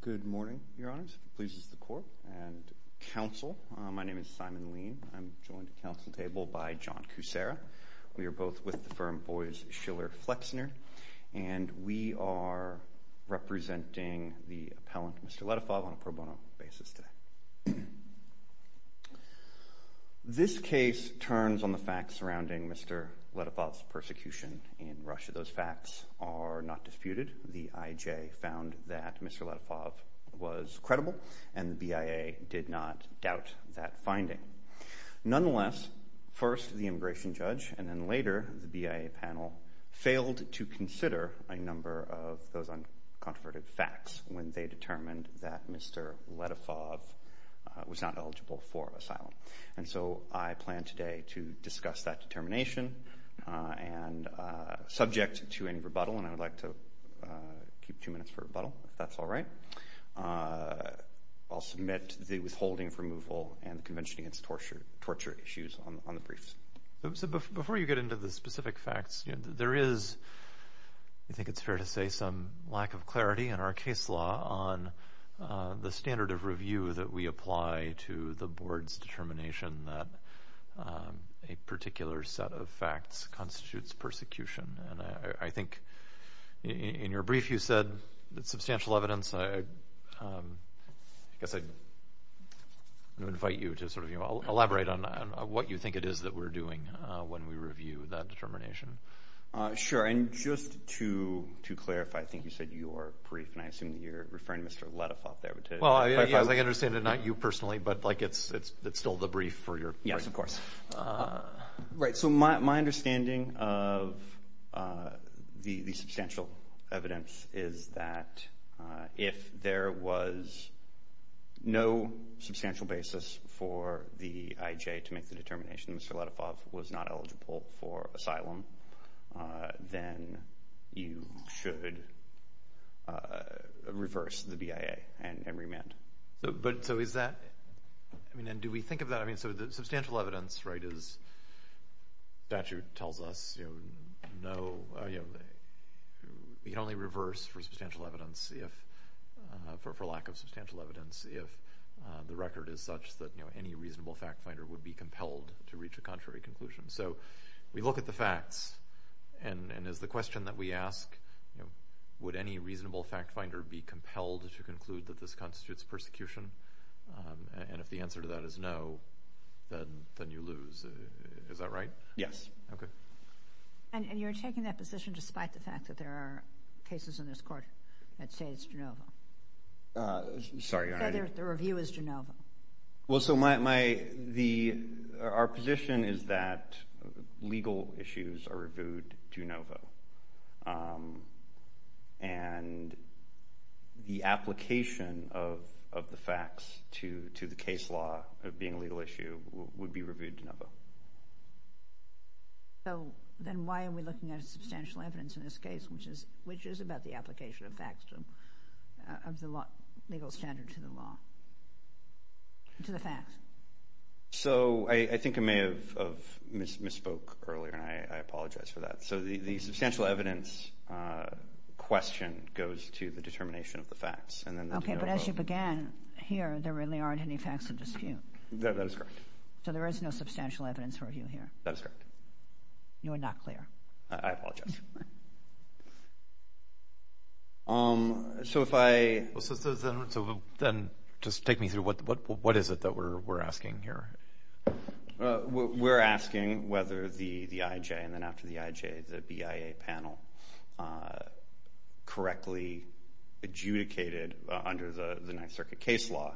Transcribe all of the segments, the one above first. Good morning, your honors. If it pleases the court and counsel, my name is Simon Lean. I'm joined at counsel table by John Kucera. We are both with the firm Boies Schiller Flexner, and we are representing the appellant, Mr. Letifov, on a pro bono basis today. This case turns on the facts surrounding Mr. Letifov's persecution in Russia. Those facts are not disputed. The IJ found that Mr. Letifov was credible, and the BIA did not doubt that finding. Nonetheless, first the immigration judge, and then later the BIA panel, failed to consider a number of those uncontroverted facts when they determined that Mr. Letifov was not eligible for asylum. And so I plan today to discuss that determination, and subject to any rebuttal, and I would like to keep two minutes for rebuttal, if that's all right. I'll submit the withholding of removal and the Convention Against Torture issues on the briefs. So before you get into the lack of clarity in our case law on the standard of review that we apply to the board's determination that a particular set of facts constitutes persecution, and I think in your brief you said that substantial evidence. I guess I invite you to sort of elaborate on what you think it is that we're doing when we said your brief, and I assume that you're referring to Mr. Letifov there. Well, I understand it's not you personally, but like it's still the brief for your case. Yes, of course. Right, so my understanding of the substantial evidence is that if there was no substantial basis for the IJ to make the reverse, the BIA, and remand. But so is that, I mean, and do we think of that, I mean, so the substantial evidence, right, is statute tells us, you know, no, you know, we can only reverse for substantial evidence if, for lack of substantial evidence, if the record is such that, you know, any reasonable fact finder would be compelled to reach a contrary conclusion. So we look at the facts, and as the reasonable fact finder be compelled to conclude that this constitutes persecution, and if the answer to that is no, then you lose. Is that right? Yes. Okay. And you're taking that position despite the fact that there are cases in this court that say it's Genova. Sorry. The review is Genova. Well, so my, the, our legal issues are reviewed Genova, and the application of the facts to the case law of being a legal issue would be reviewed Genova. So then why are we looking at a substantial evidence in this case, which is, which is about the application of facts, of the law, legal standard to the law, to the facts? So I think I may have misspoke earlier, and I apologize for that. So the substantial evidence question goes to the determination of the facts. Okay, but as you began here, there really aren't any facts of dispute. That is correct. So there is no substantial evidence for review here. That is correct. You are not clear. I apologize. So if I, so then just take me through what, what, what is it that we're, we're asking here? We're asking whether the, the IJ, and then after the IJ, the BIA panel, correctly adjudicated under the, the Ninth Circuit case law,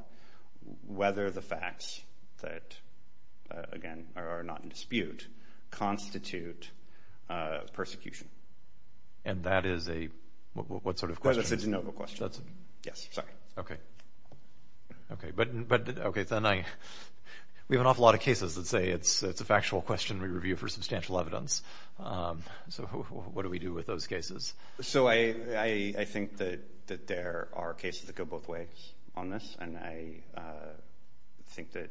whether the facts that, again, are not in dispute, constitute persecution. And that is a, what sort of question? That's a Genova question. That's a... Yes, sorry. Okay. Okay, but, but, okay, then I, we have an awful lot of cases that say it's, it's a factual question we review for substantial evidence. So what do we do with those cases? So I, I think that, that there are cases that go both ways on this, and I think that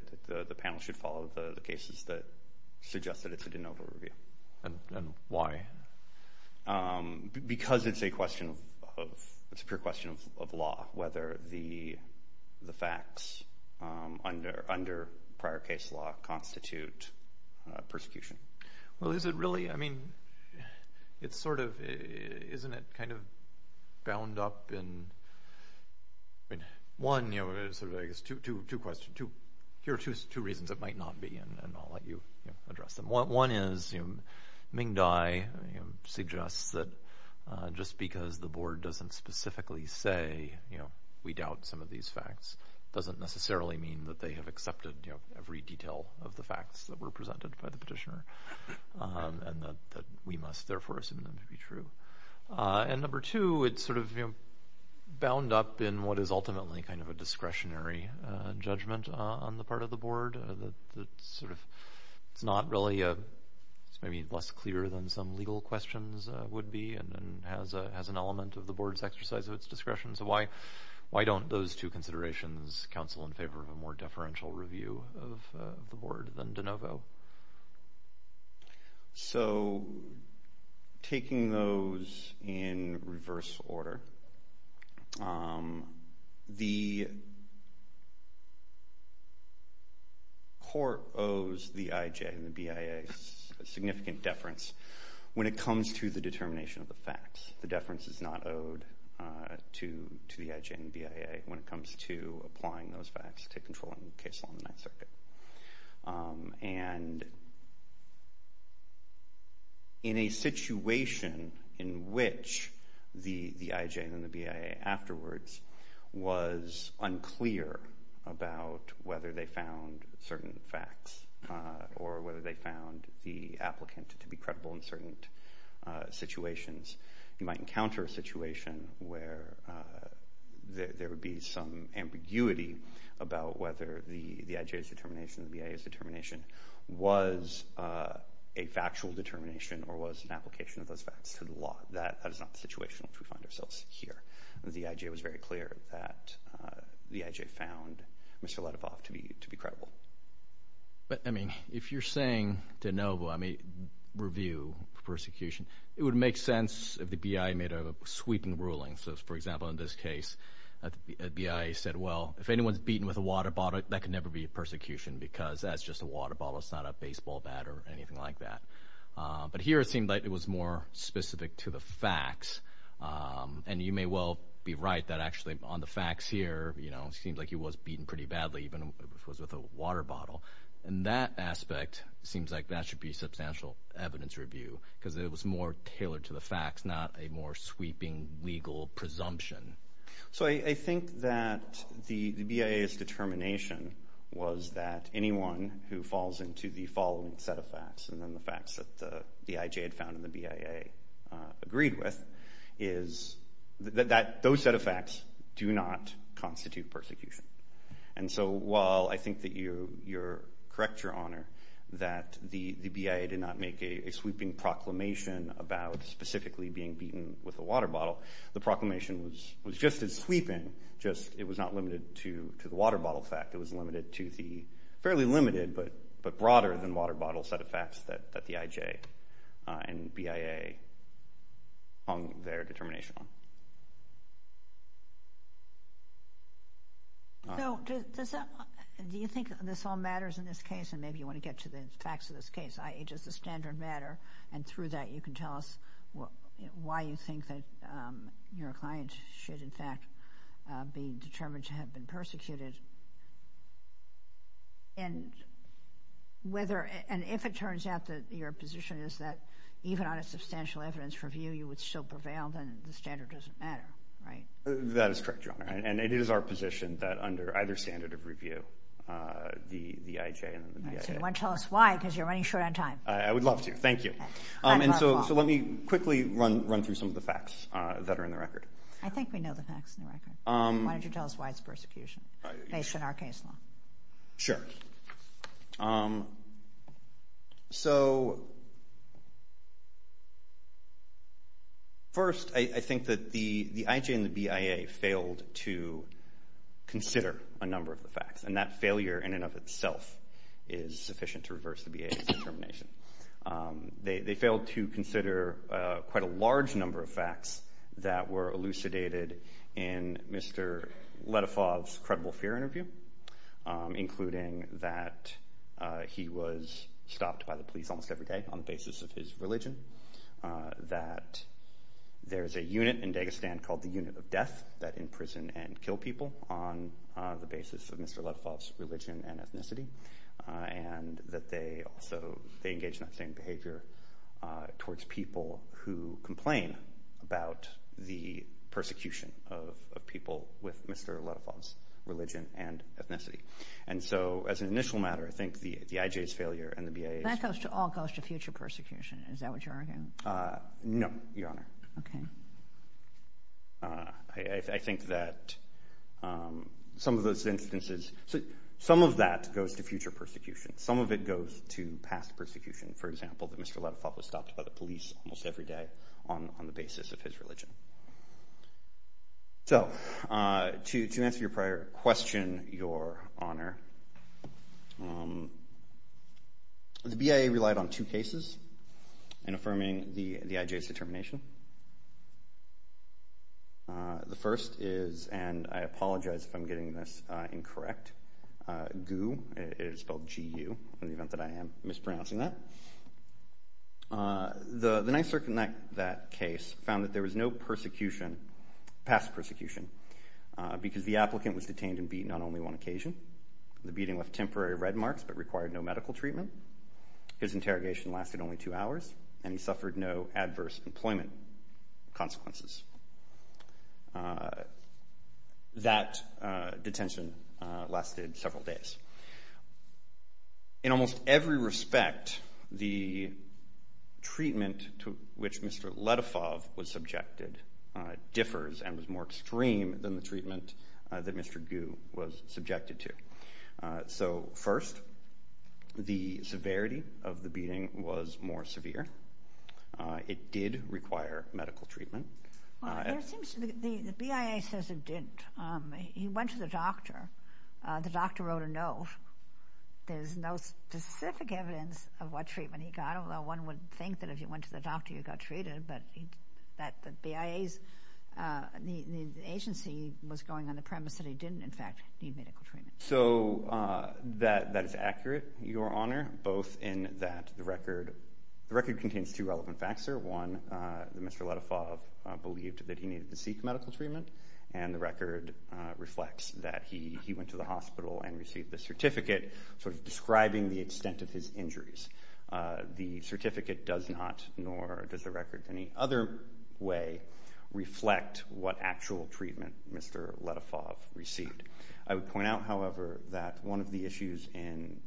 the panel should follow the cases that suggest that it's a Genova review. And why? Because it's a question of, it's a pure question of law, whether the, the facts under, under prior case law constitute persecution. Well, is it really, I mean, it's sort of, isn't it kind of bound up in, I mean, one, you know, there's two, two, two questions, two, here are two, two reasons it might not be, and I'll let you, you know, address them. One is, you know, the board doesn't specifically say, you know, we doubt some of these facts. Doesn't necessarily mean that they have accepted, you know, every detail of the facts that were presented by the petitioner, and that we must therefore assume them to be true. And number two, it's sort of, you know, bound up in what is ultimately kind of a discretionary judgment on the part of the board. That sort of, it's not really a, it's maybe less clear than some legal questions would be, and then has a, has an element of the board's exercise of its discretion. So why, why don't those two considerations counsel in favor of a more deferential review of the board than de novo? So taking those in reverse order, the court owes the IJ and the BIA a significant deference. When it comes to the determination of the facts, the deference is not owed to, to the IJ and the BIA when it comes to applying those facts to controlling the case on the Ninth Circuit. And in a situation in which the, the IJ and the BIA afterwards was unclear about whether they found certain facts, or whether they found the situations, you might encounter a situation where there would be some ambiguity about whether the IJ's determination, the BIA's determination was a factual determination or was an application of those facts to the law. That is not the situation in which we find ourselves here. The IJ was very clear that the IJ found Mr. Ledevov to be, to be credible. But I mean, if you're saying de novo, I mean, review, persecution, it would make sense if the BIA made a sweeping ruling. So for example, in this case, a BIA said, well, if anyone's beaten with a water bottle, that could never be a persecution because that's just a water bottle. It's not a baseball bat or anything like that. But here it seemed like it was more specific to the facts. And you may well be right that actually on the facts here, you know, it seemed like he was beaten pretty much with a water bottle. And that aspect seems like that should be substantial evidence review because it was more tailored to the facts, not a more sweeping legal presumption. So I think that the BIA's determination was that anyone who falls into the following set of facts, and then the facts that the IJ had found and the BIA agreed with, is that those set of facts do not correct your honor that the BIA did not make a sweeping proclamation about specifically being beaten with a water bottle. The proclamation was just as sweeping, just it was not limited to the water bottle fact. It was limited to the fairly limited but broader than water bottle set of facts that the IJ and this all matters in this case and maybe you want to get to the facts of this case. I just the standard matter and through that you can tell us why you think that your client should in fact be determined to have been persecuted. And whether and if it turns out that your position is that even on a substantial evidence review you would still prevail, then the standard doesn't matter, right? That is correct, your honor. And it is our position that under either standard of the IJ and the BIA. So you want to tell us why because you're running short on time. I would love to, thank you. And so let me quickly run through some of the facts that are in the record. I think we know the facts in the record. Why don't you tell us why it's persecution based on our case law. Sure. So first I think that the the IJ and the BIA failed to consider a number of the facts and that failure in and of itself is sufficient to reverse the BIA's determination. They failed to consider quite a large number of facts that were elucidated in Mr. Ledefov's credible fear interview, including that he was stopped by the police almost every day on the basis of his religion, that there's a unit in Dagestan called the that imprison and kill people on the basis of Mr. Ledefov's religion and ethnicity, and that they also they engaged in that same behavior towards people who complain about the persecution of people with Mr. Ledefov's religion and ethnicity. And so as an initial matter, I think the the IJ's failure and the BIA's. That all goes to future persecution, is that what you're arguing? No, Your Honor. Okay. I think that some of those instances, some of that goes to future persecution, some of it goes to past persecution. For example, that Mr. Ledefov was stopped by the police almost every day on the basis of his religion. So to answer your prior question, Your Honor, the BIA relied on two cases in the IJ's determination. The first is, and I apologize if I'm getting this incorrect, GU, it is spelled G-U in the event that I am mispronouncing that. The NYSERC in that case found that there was no persecution, past persecution, because the applicant was detained and beaten on only one occasion. The beating left temporary red marks but required no medical treatment. His suffered no adverse employment consequences. That detention lasted several days. In almost every respect, the treatment to which Mr. Ledefov was subjected differs and was more extreme than the treatment that Mr. GU was subject to. It did require medical treatment. The BIA says it didn't. He went to the doctor. The doctor wrote a note. There's no specific evidence of what treatment he got, although one would think that if you went to the doctor you got treated, but the BIA's agency was going on the premise that he didn't, in fact, need medical treatment. So that is accurate, Your Honor, both in that the record contains two relevant facts, sir. One, that Mr. Ledefov believed that he needed to seek medical treatment, and the record reflects that he went to the hospital and received the certificate, sort of describing the extent of his injuries. The certificate does not, nor does the record any other way, reflect what actual treatment Mr. Ledefov received. I would point out, however, that one of the issues in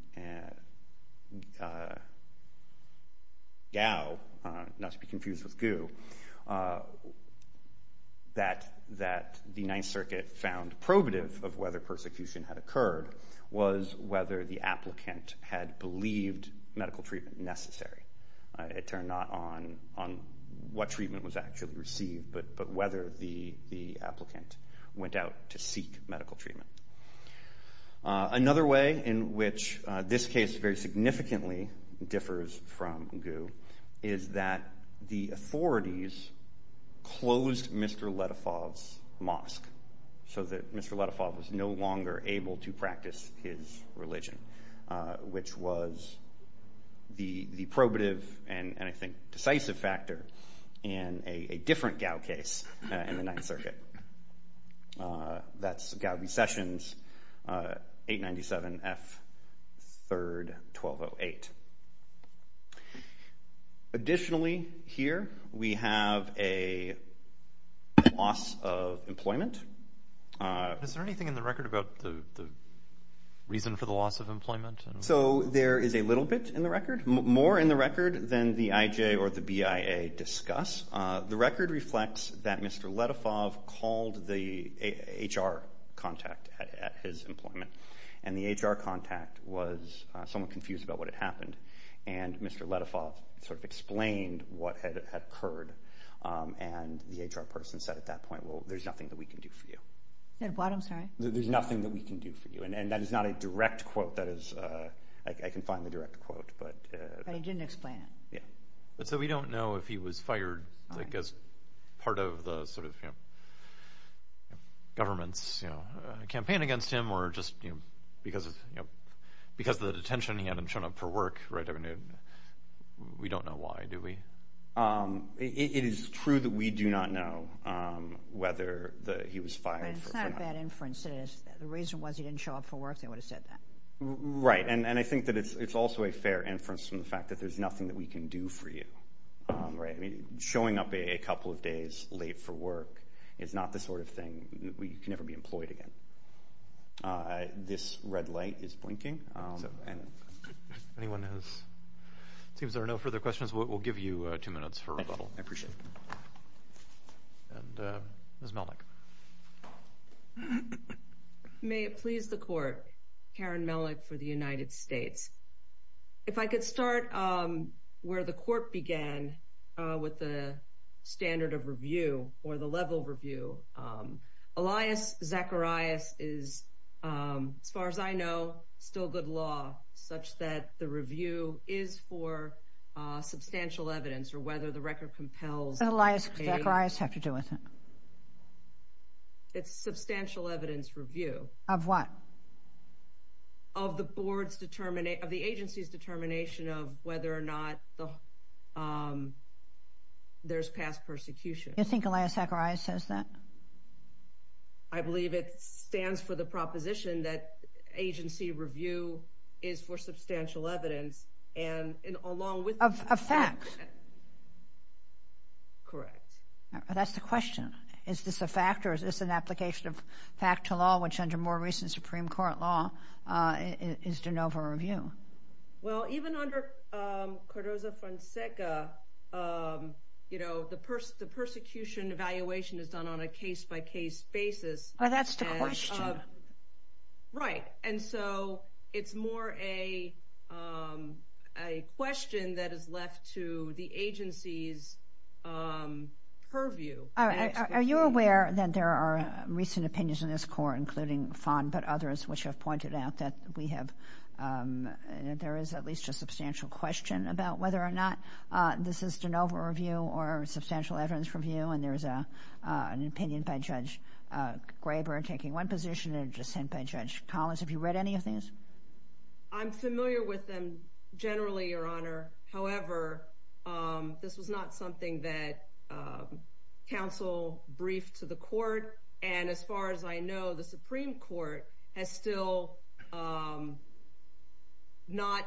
GOW, not to be confused with GU, that the Ninth Circuit found probative of whether persecution had occurred was whether the applicant had believed medical treatment necessary. It turned not on what treatment was actually received, but whether the applicant went out to seek medical treatment. Another way in which this case very significantly differs from GU is that the authorities closed Mr. Ledefov's mosque so that Mr. Ledefov was no longer able to practice his religion, which was the probative and, I think, decisive factor in a different GOW case in the Ninth Circuit. That's GOW recessions 897 F 3rd 1208. Additionally, here we have a loss of employment. Is there anything in the record about the reason for the loss of employment? So there is a little bit in the record, more in the record than the IJ or the BIA discuss. The record reflects that Mr. Ledefov called the HR contact at his employment, and the HR contact was somewhat confused about what had happened. And Mr. Ledefov sort of explained what had occurred, and the HR person said at that point, well, there's nothing that we can do for you. There's nothing that we can do for you, and that is not a direct quote. I can find the direct quote. But he didn't explain it. So we don't know if he was fired as part of the government's campaign against him, or just because of the detention, he hadn't shown up for work. We don't know why, do we? It is true that we do not know whether he was fired. It's not a bad inference. The reason was he didn't show up for work, they would have said that. Right, and I think that it's also a fair inference from the fact that there's nothing that we can do for you. Showing up a couple of days late for work is not the sort of thing, you can never be employed again. This red light is blinking. Anyone has, it seems there are no further questions, we'll give you two minutes for rebuttal. I appreciate it. And Ms. Melnick. May it please the court, Karen Melnick for the United States. If I could start where the court began with the standard of review, or the level review. Elias Zacharias is, as far as I know, still good law, such that the review is for substantial evidence, or whether the record compels. Elias Zacharias has to do with it. It's a substantial evidence review. Of what? Of the board's, of the agency's determination of whether or not there's past persecution. You think Elias Zacharias says that? I believe it stands for the proposition that agency review is for substantial evidence, and along with... Of facts. Correct. That's the question. Is this a fact, or is this an application of fact to law, which under more recent Supreme Court law, is de novo review? Well, even under Cardozo-Fonseca, you know, the persecution evaluation is done on a case-by-case basis. That's the question. Right, and so it's more a question that is left to the agency's purview. Are you aware that there are recent opinions in this court, including Fon, but others which have pointed out that we have, there is at least a substantial question about whether or not this is de novo review, or substantial evidence review, and there's an opposition and dissent by Judge Collins. Have you read any of these? I'm familiar with them generally, Your Honor. However, this was not something that counsel briefed to the court, and as far as I know, the Supreme Court has still not,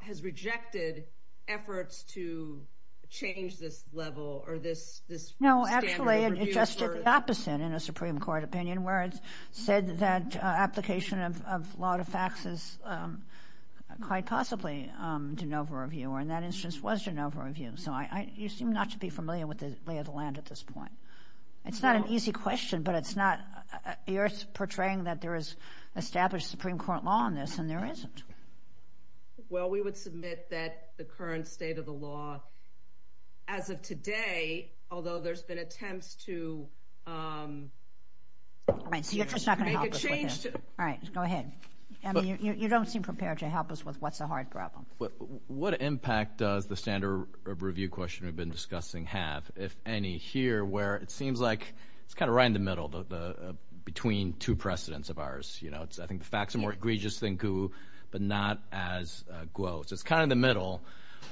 has rejected efforts to change this level, or this standard of review. No, actually, it just did the opposite in a Supreme Court opinion, where it said that application of law to facts is quite possibly de novo review, or in that instance was de novo review. So you seem not to be familiar with the lay of the land at this point. It's not an easy question, but it's not, you're portraying that there is established Supreme Court law on this, and there isn't. Well, we would submit that the current state of the law, as of today, although there's been attempts to make a change. All right, go ahead. You don't seem prepared to help us with what's a hard problem. What impact does the standard of review question we've been discussing have, if any, here, where it seems like it's kind of right in the middle, though, between two precedents of ours. You know, it's, I think, the facts are more egregious than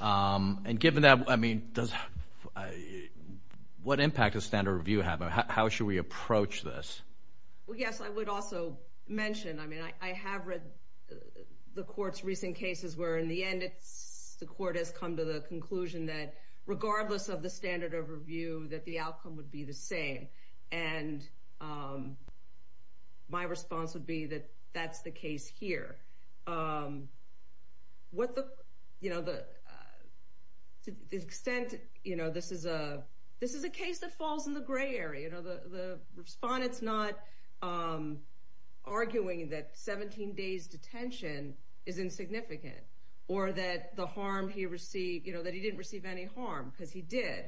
I mean, does, what impact does standard review have? How should we approach this? Well, yes, I would also mention, I mean, I have read the court's recent cases where, in the end, it's, the court has come to the conclusion that, regardless of the standard of review, that the outcome would be the same. And my response would be that that's the case here. What the, you know, the extent, you know, this is a case that falls in the gray area. You know, the respondent's not arguing that 17 days' detention is insignificant, or that the harm he received, you know, that he didn't receive any harm, because he did.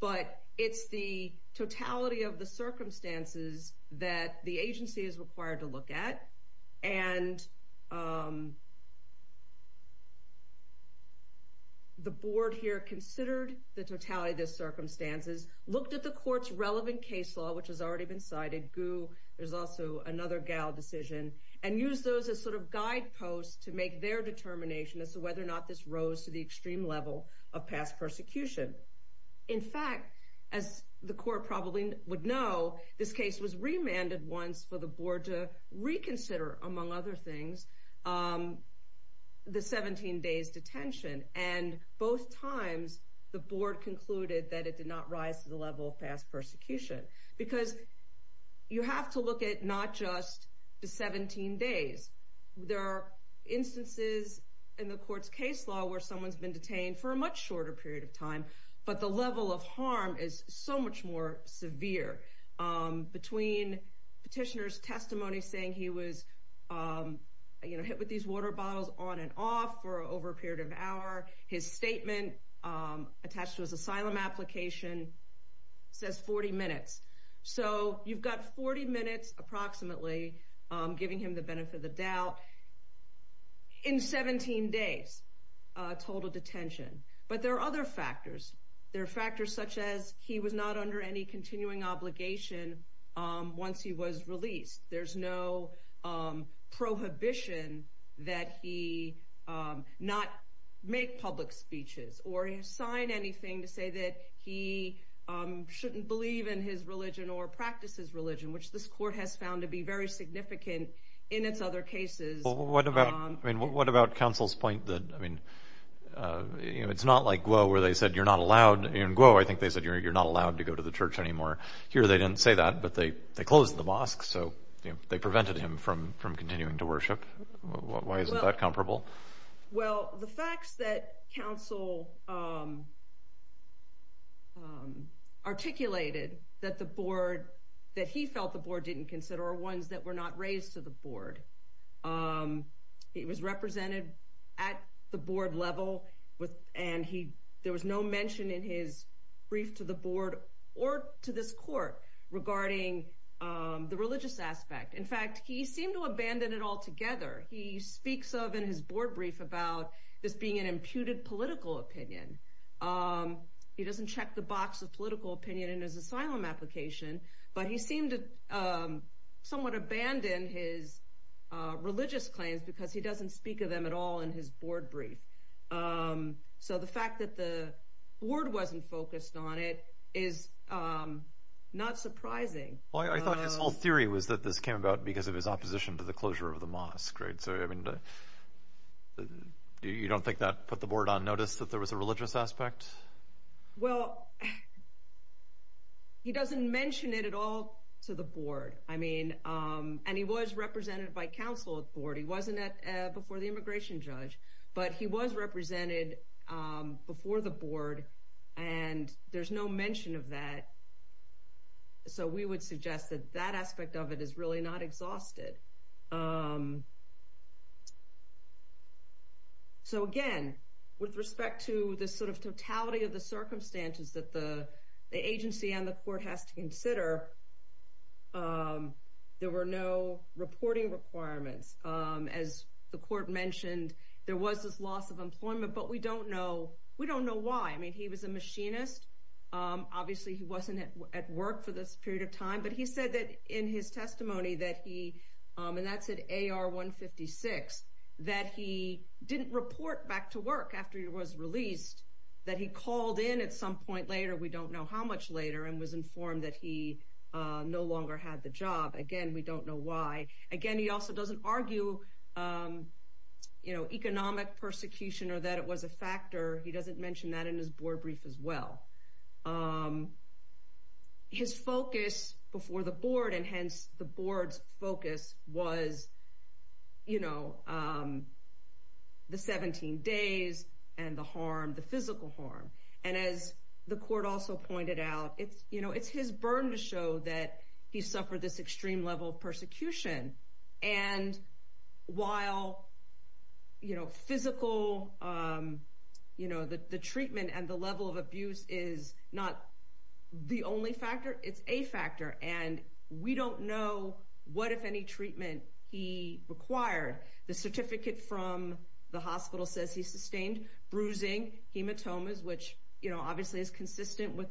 But it's the totality of the circumstances that the agency is required to look at. And the board here considered the totality of the circumstances, looked at the court's relevant case law, which has already been cited, GU, there's also another GAL decision, and used those as sort of guideposts to make their determination as to whether or not this rose to the extreme level of past persecution. In fact, as the court probably would know, this case was remanded once for the board to reconsider, among other things, the 17 days' detention. And both times, the board concluded that it did not rise to the level of past persecution. Because you have to look at not just the 17 days. There are instances in the court's case law where someone's been detained for a much shorter period of time, but the level of harm is so much more severe. Between petitioner's testimony saying he was hit with these water bottles on and off for over a period of hour, his statement attached to his asylum application says 40 minutes. So you've got 40 minutes, approximately, giving him the detention. But there are other factors. There are factors such as he was not under any continuing obligation once he was released. There's no prohibition that he not make public speeches, or sign anything to say that he shouldn't believe in his religion or practice his religion, which this court has found to be very significant in its other cases. What about counsel's point that it's not like Guo where they said you're not allowed. In Guo, I think they said you're not allowed to go to the church anymore. Here, they didn't say that, but they closed the mosque, so they prevented him from continuing to worship. Why isn't that comparable? Well, the facts that counsel articulated that he felt the board didn't consider are ones that were not raised to the board. He was represented at the board level, and there was no mention in his brief to the board or to this court regarding the religious aspect. In fact, he seemed to abandon it altogether. He speaks of in his board brief about this being an imputed political opinion. He doesn't check the box of political opinion in his asylum application, but he seemed to somewhat abandon his religious claims because he doesn't speak of them at all in his board brief. The fact that the board wasn't focused on it is not surprising. I thought his whole theory was that this came about because of his opposition to the closure of the mosque. You don't think that put the board on notice that there was a religious aspect? Well, he doesn't mention it at all to the board. I mean, and he was represented by counsel at the board. He wasn't before the immigration judge, but he was represented before the board, and there's no mention of that, so we would suggest that that aspect of it is really not exhausted. So again, with respect to the sort of totality of the circumstances that the agency and the court has to consider, there were no reporting requirements. As the court mentioned, there was this loss of employment, but we don't know why. I mean, he was a machinist. Obviously, he wasn't at work for this period of time, but he said that in his testimony that he, and that's at AR 156, that he didn't report back to work after he was released, that he called in at some point later, we don't know how much later, and was informed that he no longer had the job. Again, we don't know why. Again, he also doesn't argue, you know, economic persecution or that it was a factor. He doesn't mention that in his board brief as well. His focus before the board, and hence the board's focus, was, you know, the 17 days and the harm, the physical harm, and as the court also pointed out, it's, you know, it's his burn to show that he suffered this extreme level of persecution, and while, you know, physical, you know, the treatment and the level of abuse is not the only factor, it's a factor, and we don't know what, if any, treatment he required. The certificate from the hospital says he sustained bruising, hematomas, which, you know, obviously is consistent with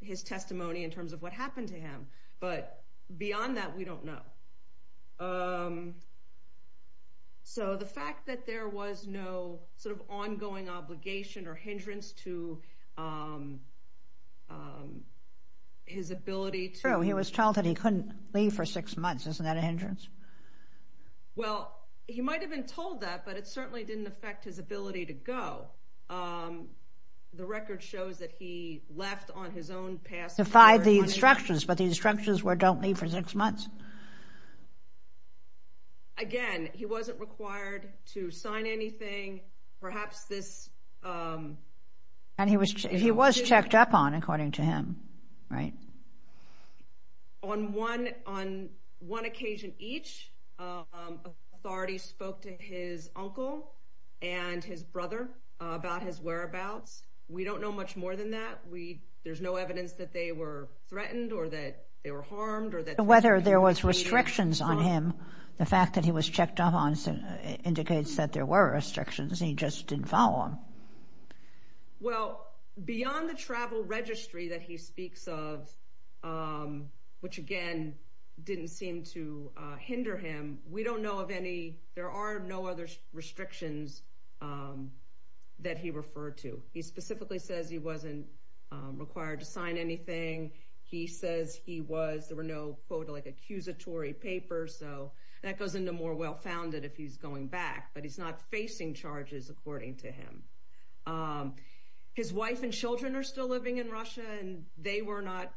his testimony in terms of what happened to him, but beyond that, we don't know. So, the fact that there was no sort of ongoing obligation or hindrance to his ability to... True, he was told that he couldn't leave for six months. Isn't that a hindrance? Well, he might have been told that, but it certainly didn't affect his ability to go. The record shows that he left on his own past... Defied the instructions, but the instructions were don't leave for six months. Again, he wasn't required to sign anything, perhaps this... And he was, he was checked up on, according to him, right? On one, on one occasion each, authorities spoke to his uncle and his brother about his whereabouts. We don't know much more than that. We, there's no evidence that they were threatened or that they were harmed or that... Whether there was restrictions on him, the fact that he was checked up on indicates that there were restrictions, he just didn't follow them. Well, beyond the travel registry that he speaks of, which again, didn't seem to hinder him, we don't know of any, there are no other restrictions that he referred to. He specifically says he wasn't required to sign anything. He says he was, there were no quote like accusatory papers, so that goes into more well-founded if he's going back, but he's not facing charges, according to him. His wife and children are still living in Russia and they were not,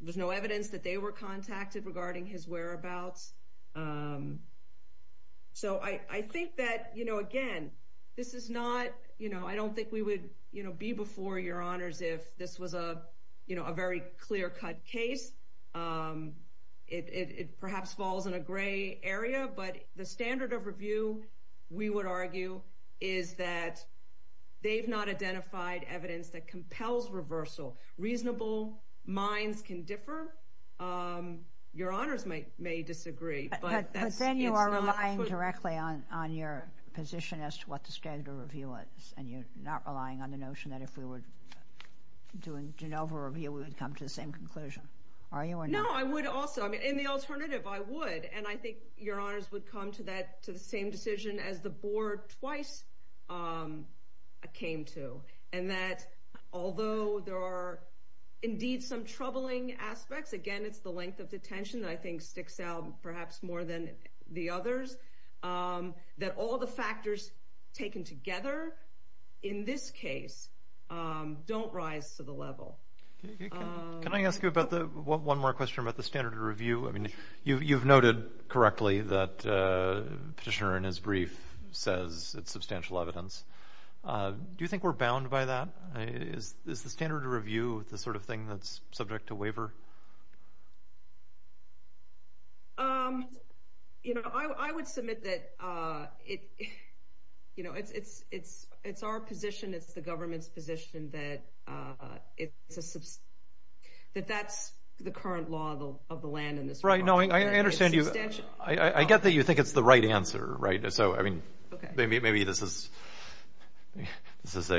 there's no evidence that they were contacted regarding his whereabouts. So I think that, again, this is not, I don't think we would be before your honors if this was a very clear cut case. It perhaps falls in a gray area, but the standard of review, we would argue, is that they've not identified evidence that compels reversal. Reasonable minds can differ. Your honors may disagree, but that's... But then you are relying directly on your position as to what the standard of review is, and you're not relying on the notion that if we were doing Genova review, we would come to the same conclusion. Are you or not? No, I would also. In the alternative, I would, and I think your honors would come to the same decision as the board twice came to, and that although there are indeed some troubling aspects, again, it's the length of detention that I think sticks out perhaps more than the others, that all the factors taken together in this case don't rise to the level. Can I ask you about the, one more question about the standard of review? I mean, you've noted correctly that Petitioner in his brief says it's substantial evidence. Do you think we're bound by that? Is the standard of review the sort of thing that's subject to waiver? You know, I would submit that it's our position, it's the government's position that it's a, that that's the current law of the land in this province. Right, no, I understand you. I get that you think it's the right answer, right? So, I mean, maybe this is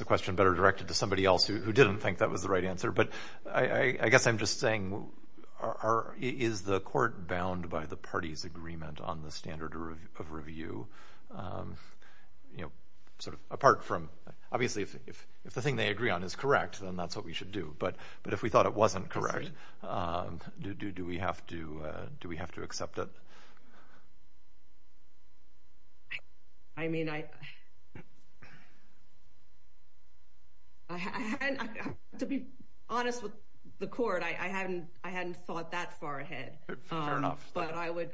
a question better directed to somebody else who didn't think that was the right answer, but I guess I'm just saying, is the court bound by the party's agreement on the standard of review? You know, sort of apart from, obviously, if the thing they agree on is correct, then that's what we should do, but if we thought it wasn't correct, do we have to accept it? I mean, I, to be honest with the court, I hadn't thought that far ahead. Fair enough. But I would,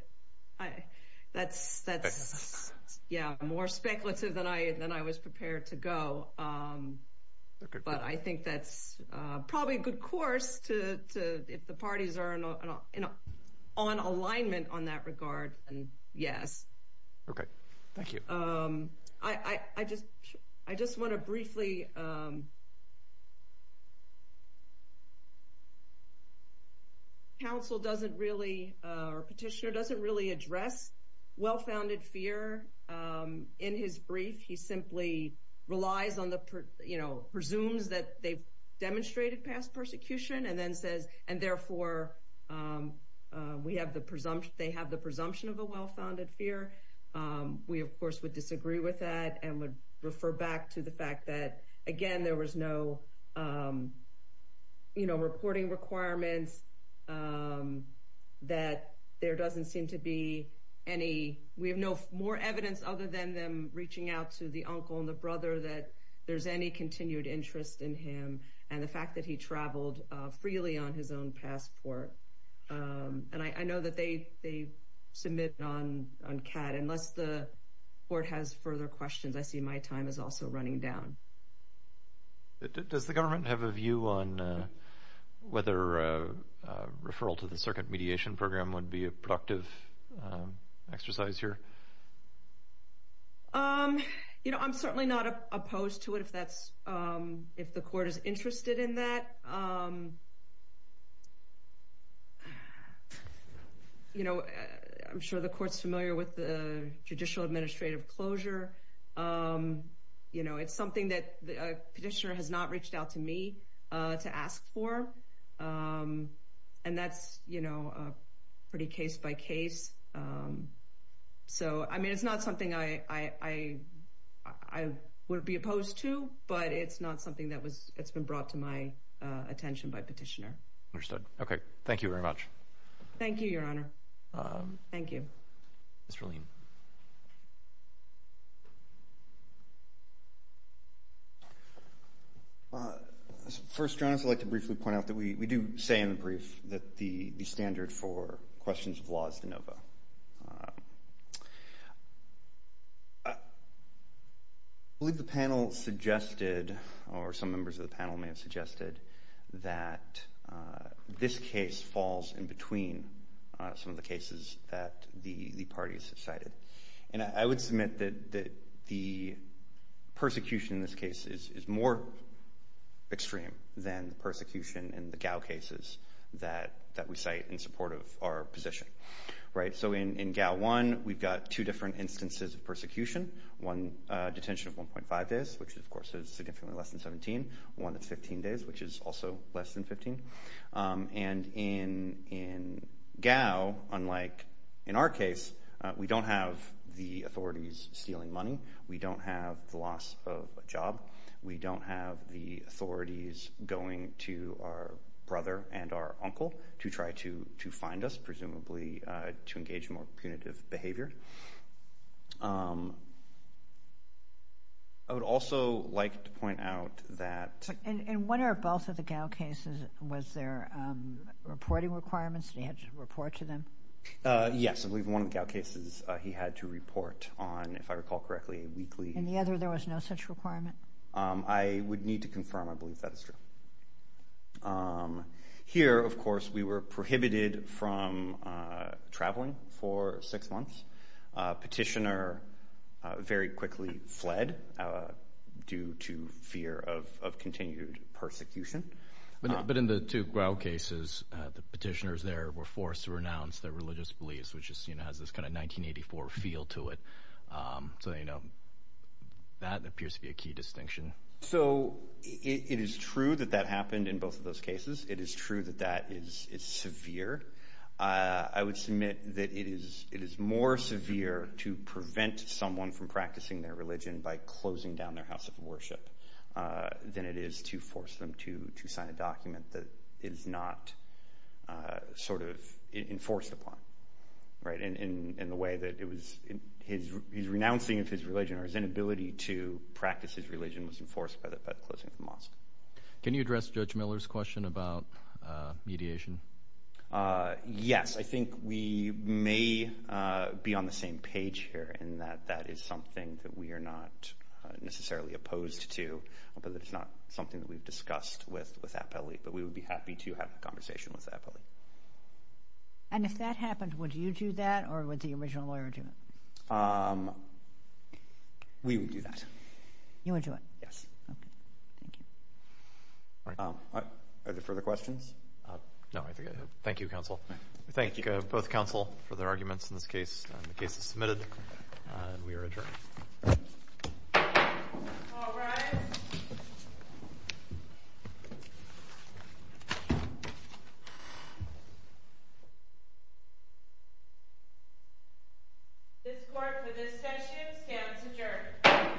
that's, yeah, more speculative than I was prepared to go, but I think that's probably a good course to, if the parties are on alignment on that regard, then yes. Okay, thank you. I just want to briefly, counsel doesn't really, or petitioner doesn't really address well-founded fear in his brief. He simply relies on the, you know, presumes that they've demonstrated past persecution, and then says, and therefore, we have the presumption, they have the presumption of a well-founded fear. We, of course, would disagree with that and would refer back to the fact that, again, there was no, you know, reporting requirements, that there doesn't seem to be any, we have no more evidence other than them reaching out to the uncle and the brother that there's any continued interest in him, and the fact that he traveled freely on his own passport. And I know that they submit on CAD, unless the court has further questions, I see my time is also running down. Does the government have a view on whether a referral to the circuit mediation program would be a productive exercise here? You know, I'm certainly not opposed to it if that's, if the court is interested in that. You know, I'm sure the court's familiar with the judicial administrative closure. You know, it's something that the petitioner has not reached out to me to ask for, and that's, you know, pretty case by case. So, I mean, it's not something I would be opposed to, but it's not something that was, it's been brought to my attention by petitioner. Understood. Okay. Thank you very much. Thank you, Your Honor. Thank you. Mr. Lien. First, Your Honor, I'd like to briefly point out that we do say in the brief that the standard for questions of law is de novo. I believe the panel suggested, or some members of the panel may have suggested, that this case falls in between some of the cases that the parties have cited. And I would submit that the persecution in this case is more extreme than the persecution in the Gao cases that we cite in support of our position. Right? So, in Gao 1, we've got two different instances of persecution. One detention of 1.5 days, which, of course, is significantly less than 17. One that's 15 days, which is also less than 15. And in Gao, unlike in our case, we don't have the authorities stealing money. We don't have the loss of a job. We don't have the authorities going to our brother and our uncle to try to find us, presumably, to engage in more punitive behavior. I would also like to point out that... In one or both of the Gao cases, was there reporting requirements? He had to report to them? Yes. I believe in one of the Gao cases, he had to report on, if I recall correctly, a weekly... In the other, there was no such requirement? I would need to confirm. I believe that is true. Here, of course, we were prohibited from traveling for six months. Petitioner very quickly fled due to fear of continued persecution. But in the two Gao cases, the petitioners there were forced to renounce their religious beliefs, which has this 1984 feel to it. So, that appears to be a key distinction. So, it is true that that happened in both of those cases. It is true that that is severe. I would submit that it is more severe to prevent someone from practicing their religion by closing down their house of worship than it is to force them to sign a document that is not enforced upon in the way that it was... He's renouncing of his religion or his inability to enforce it by closing the mosque. Can you address Judge Miller's question about mediation? Yes. I think we may be on the same page here in that that is something that we are not necessarily opposed to, but it's not something that we've discussed with Appelli. But we would be happy to have a conversation with Appelli. And if that happened, would you do that or would the original lawyer do it? We would do that. You would do it? Yes. Okay. Thank you. Are there further questions? No, I think I have. Thank you, counsel. We thank both counsel for their arguments in this case. The case is submitted and we are adjourned. This court for this session stands adjourned.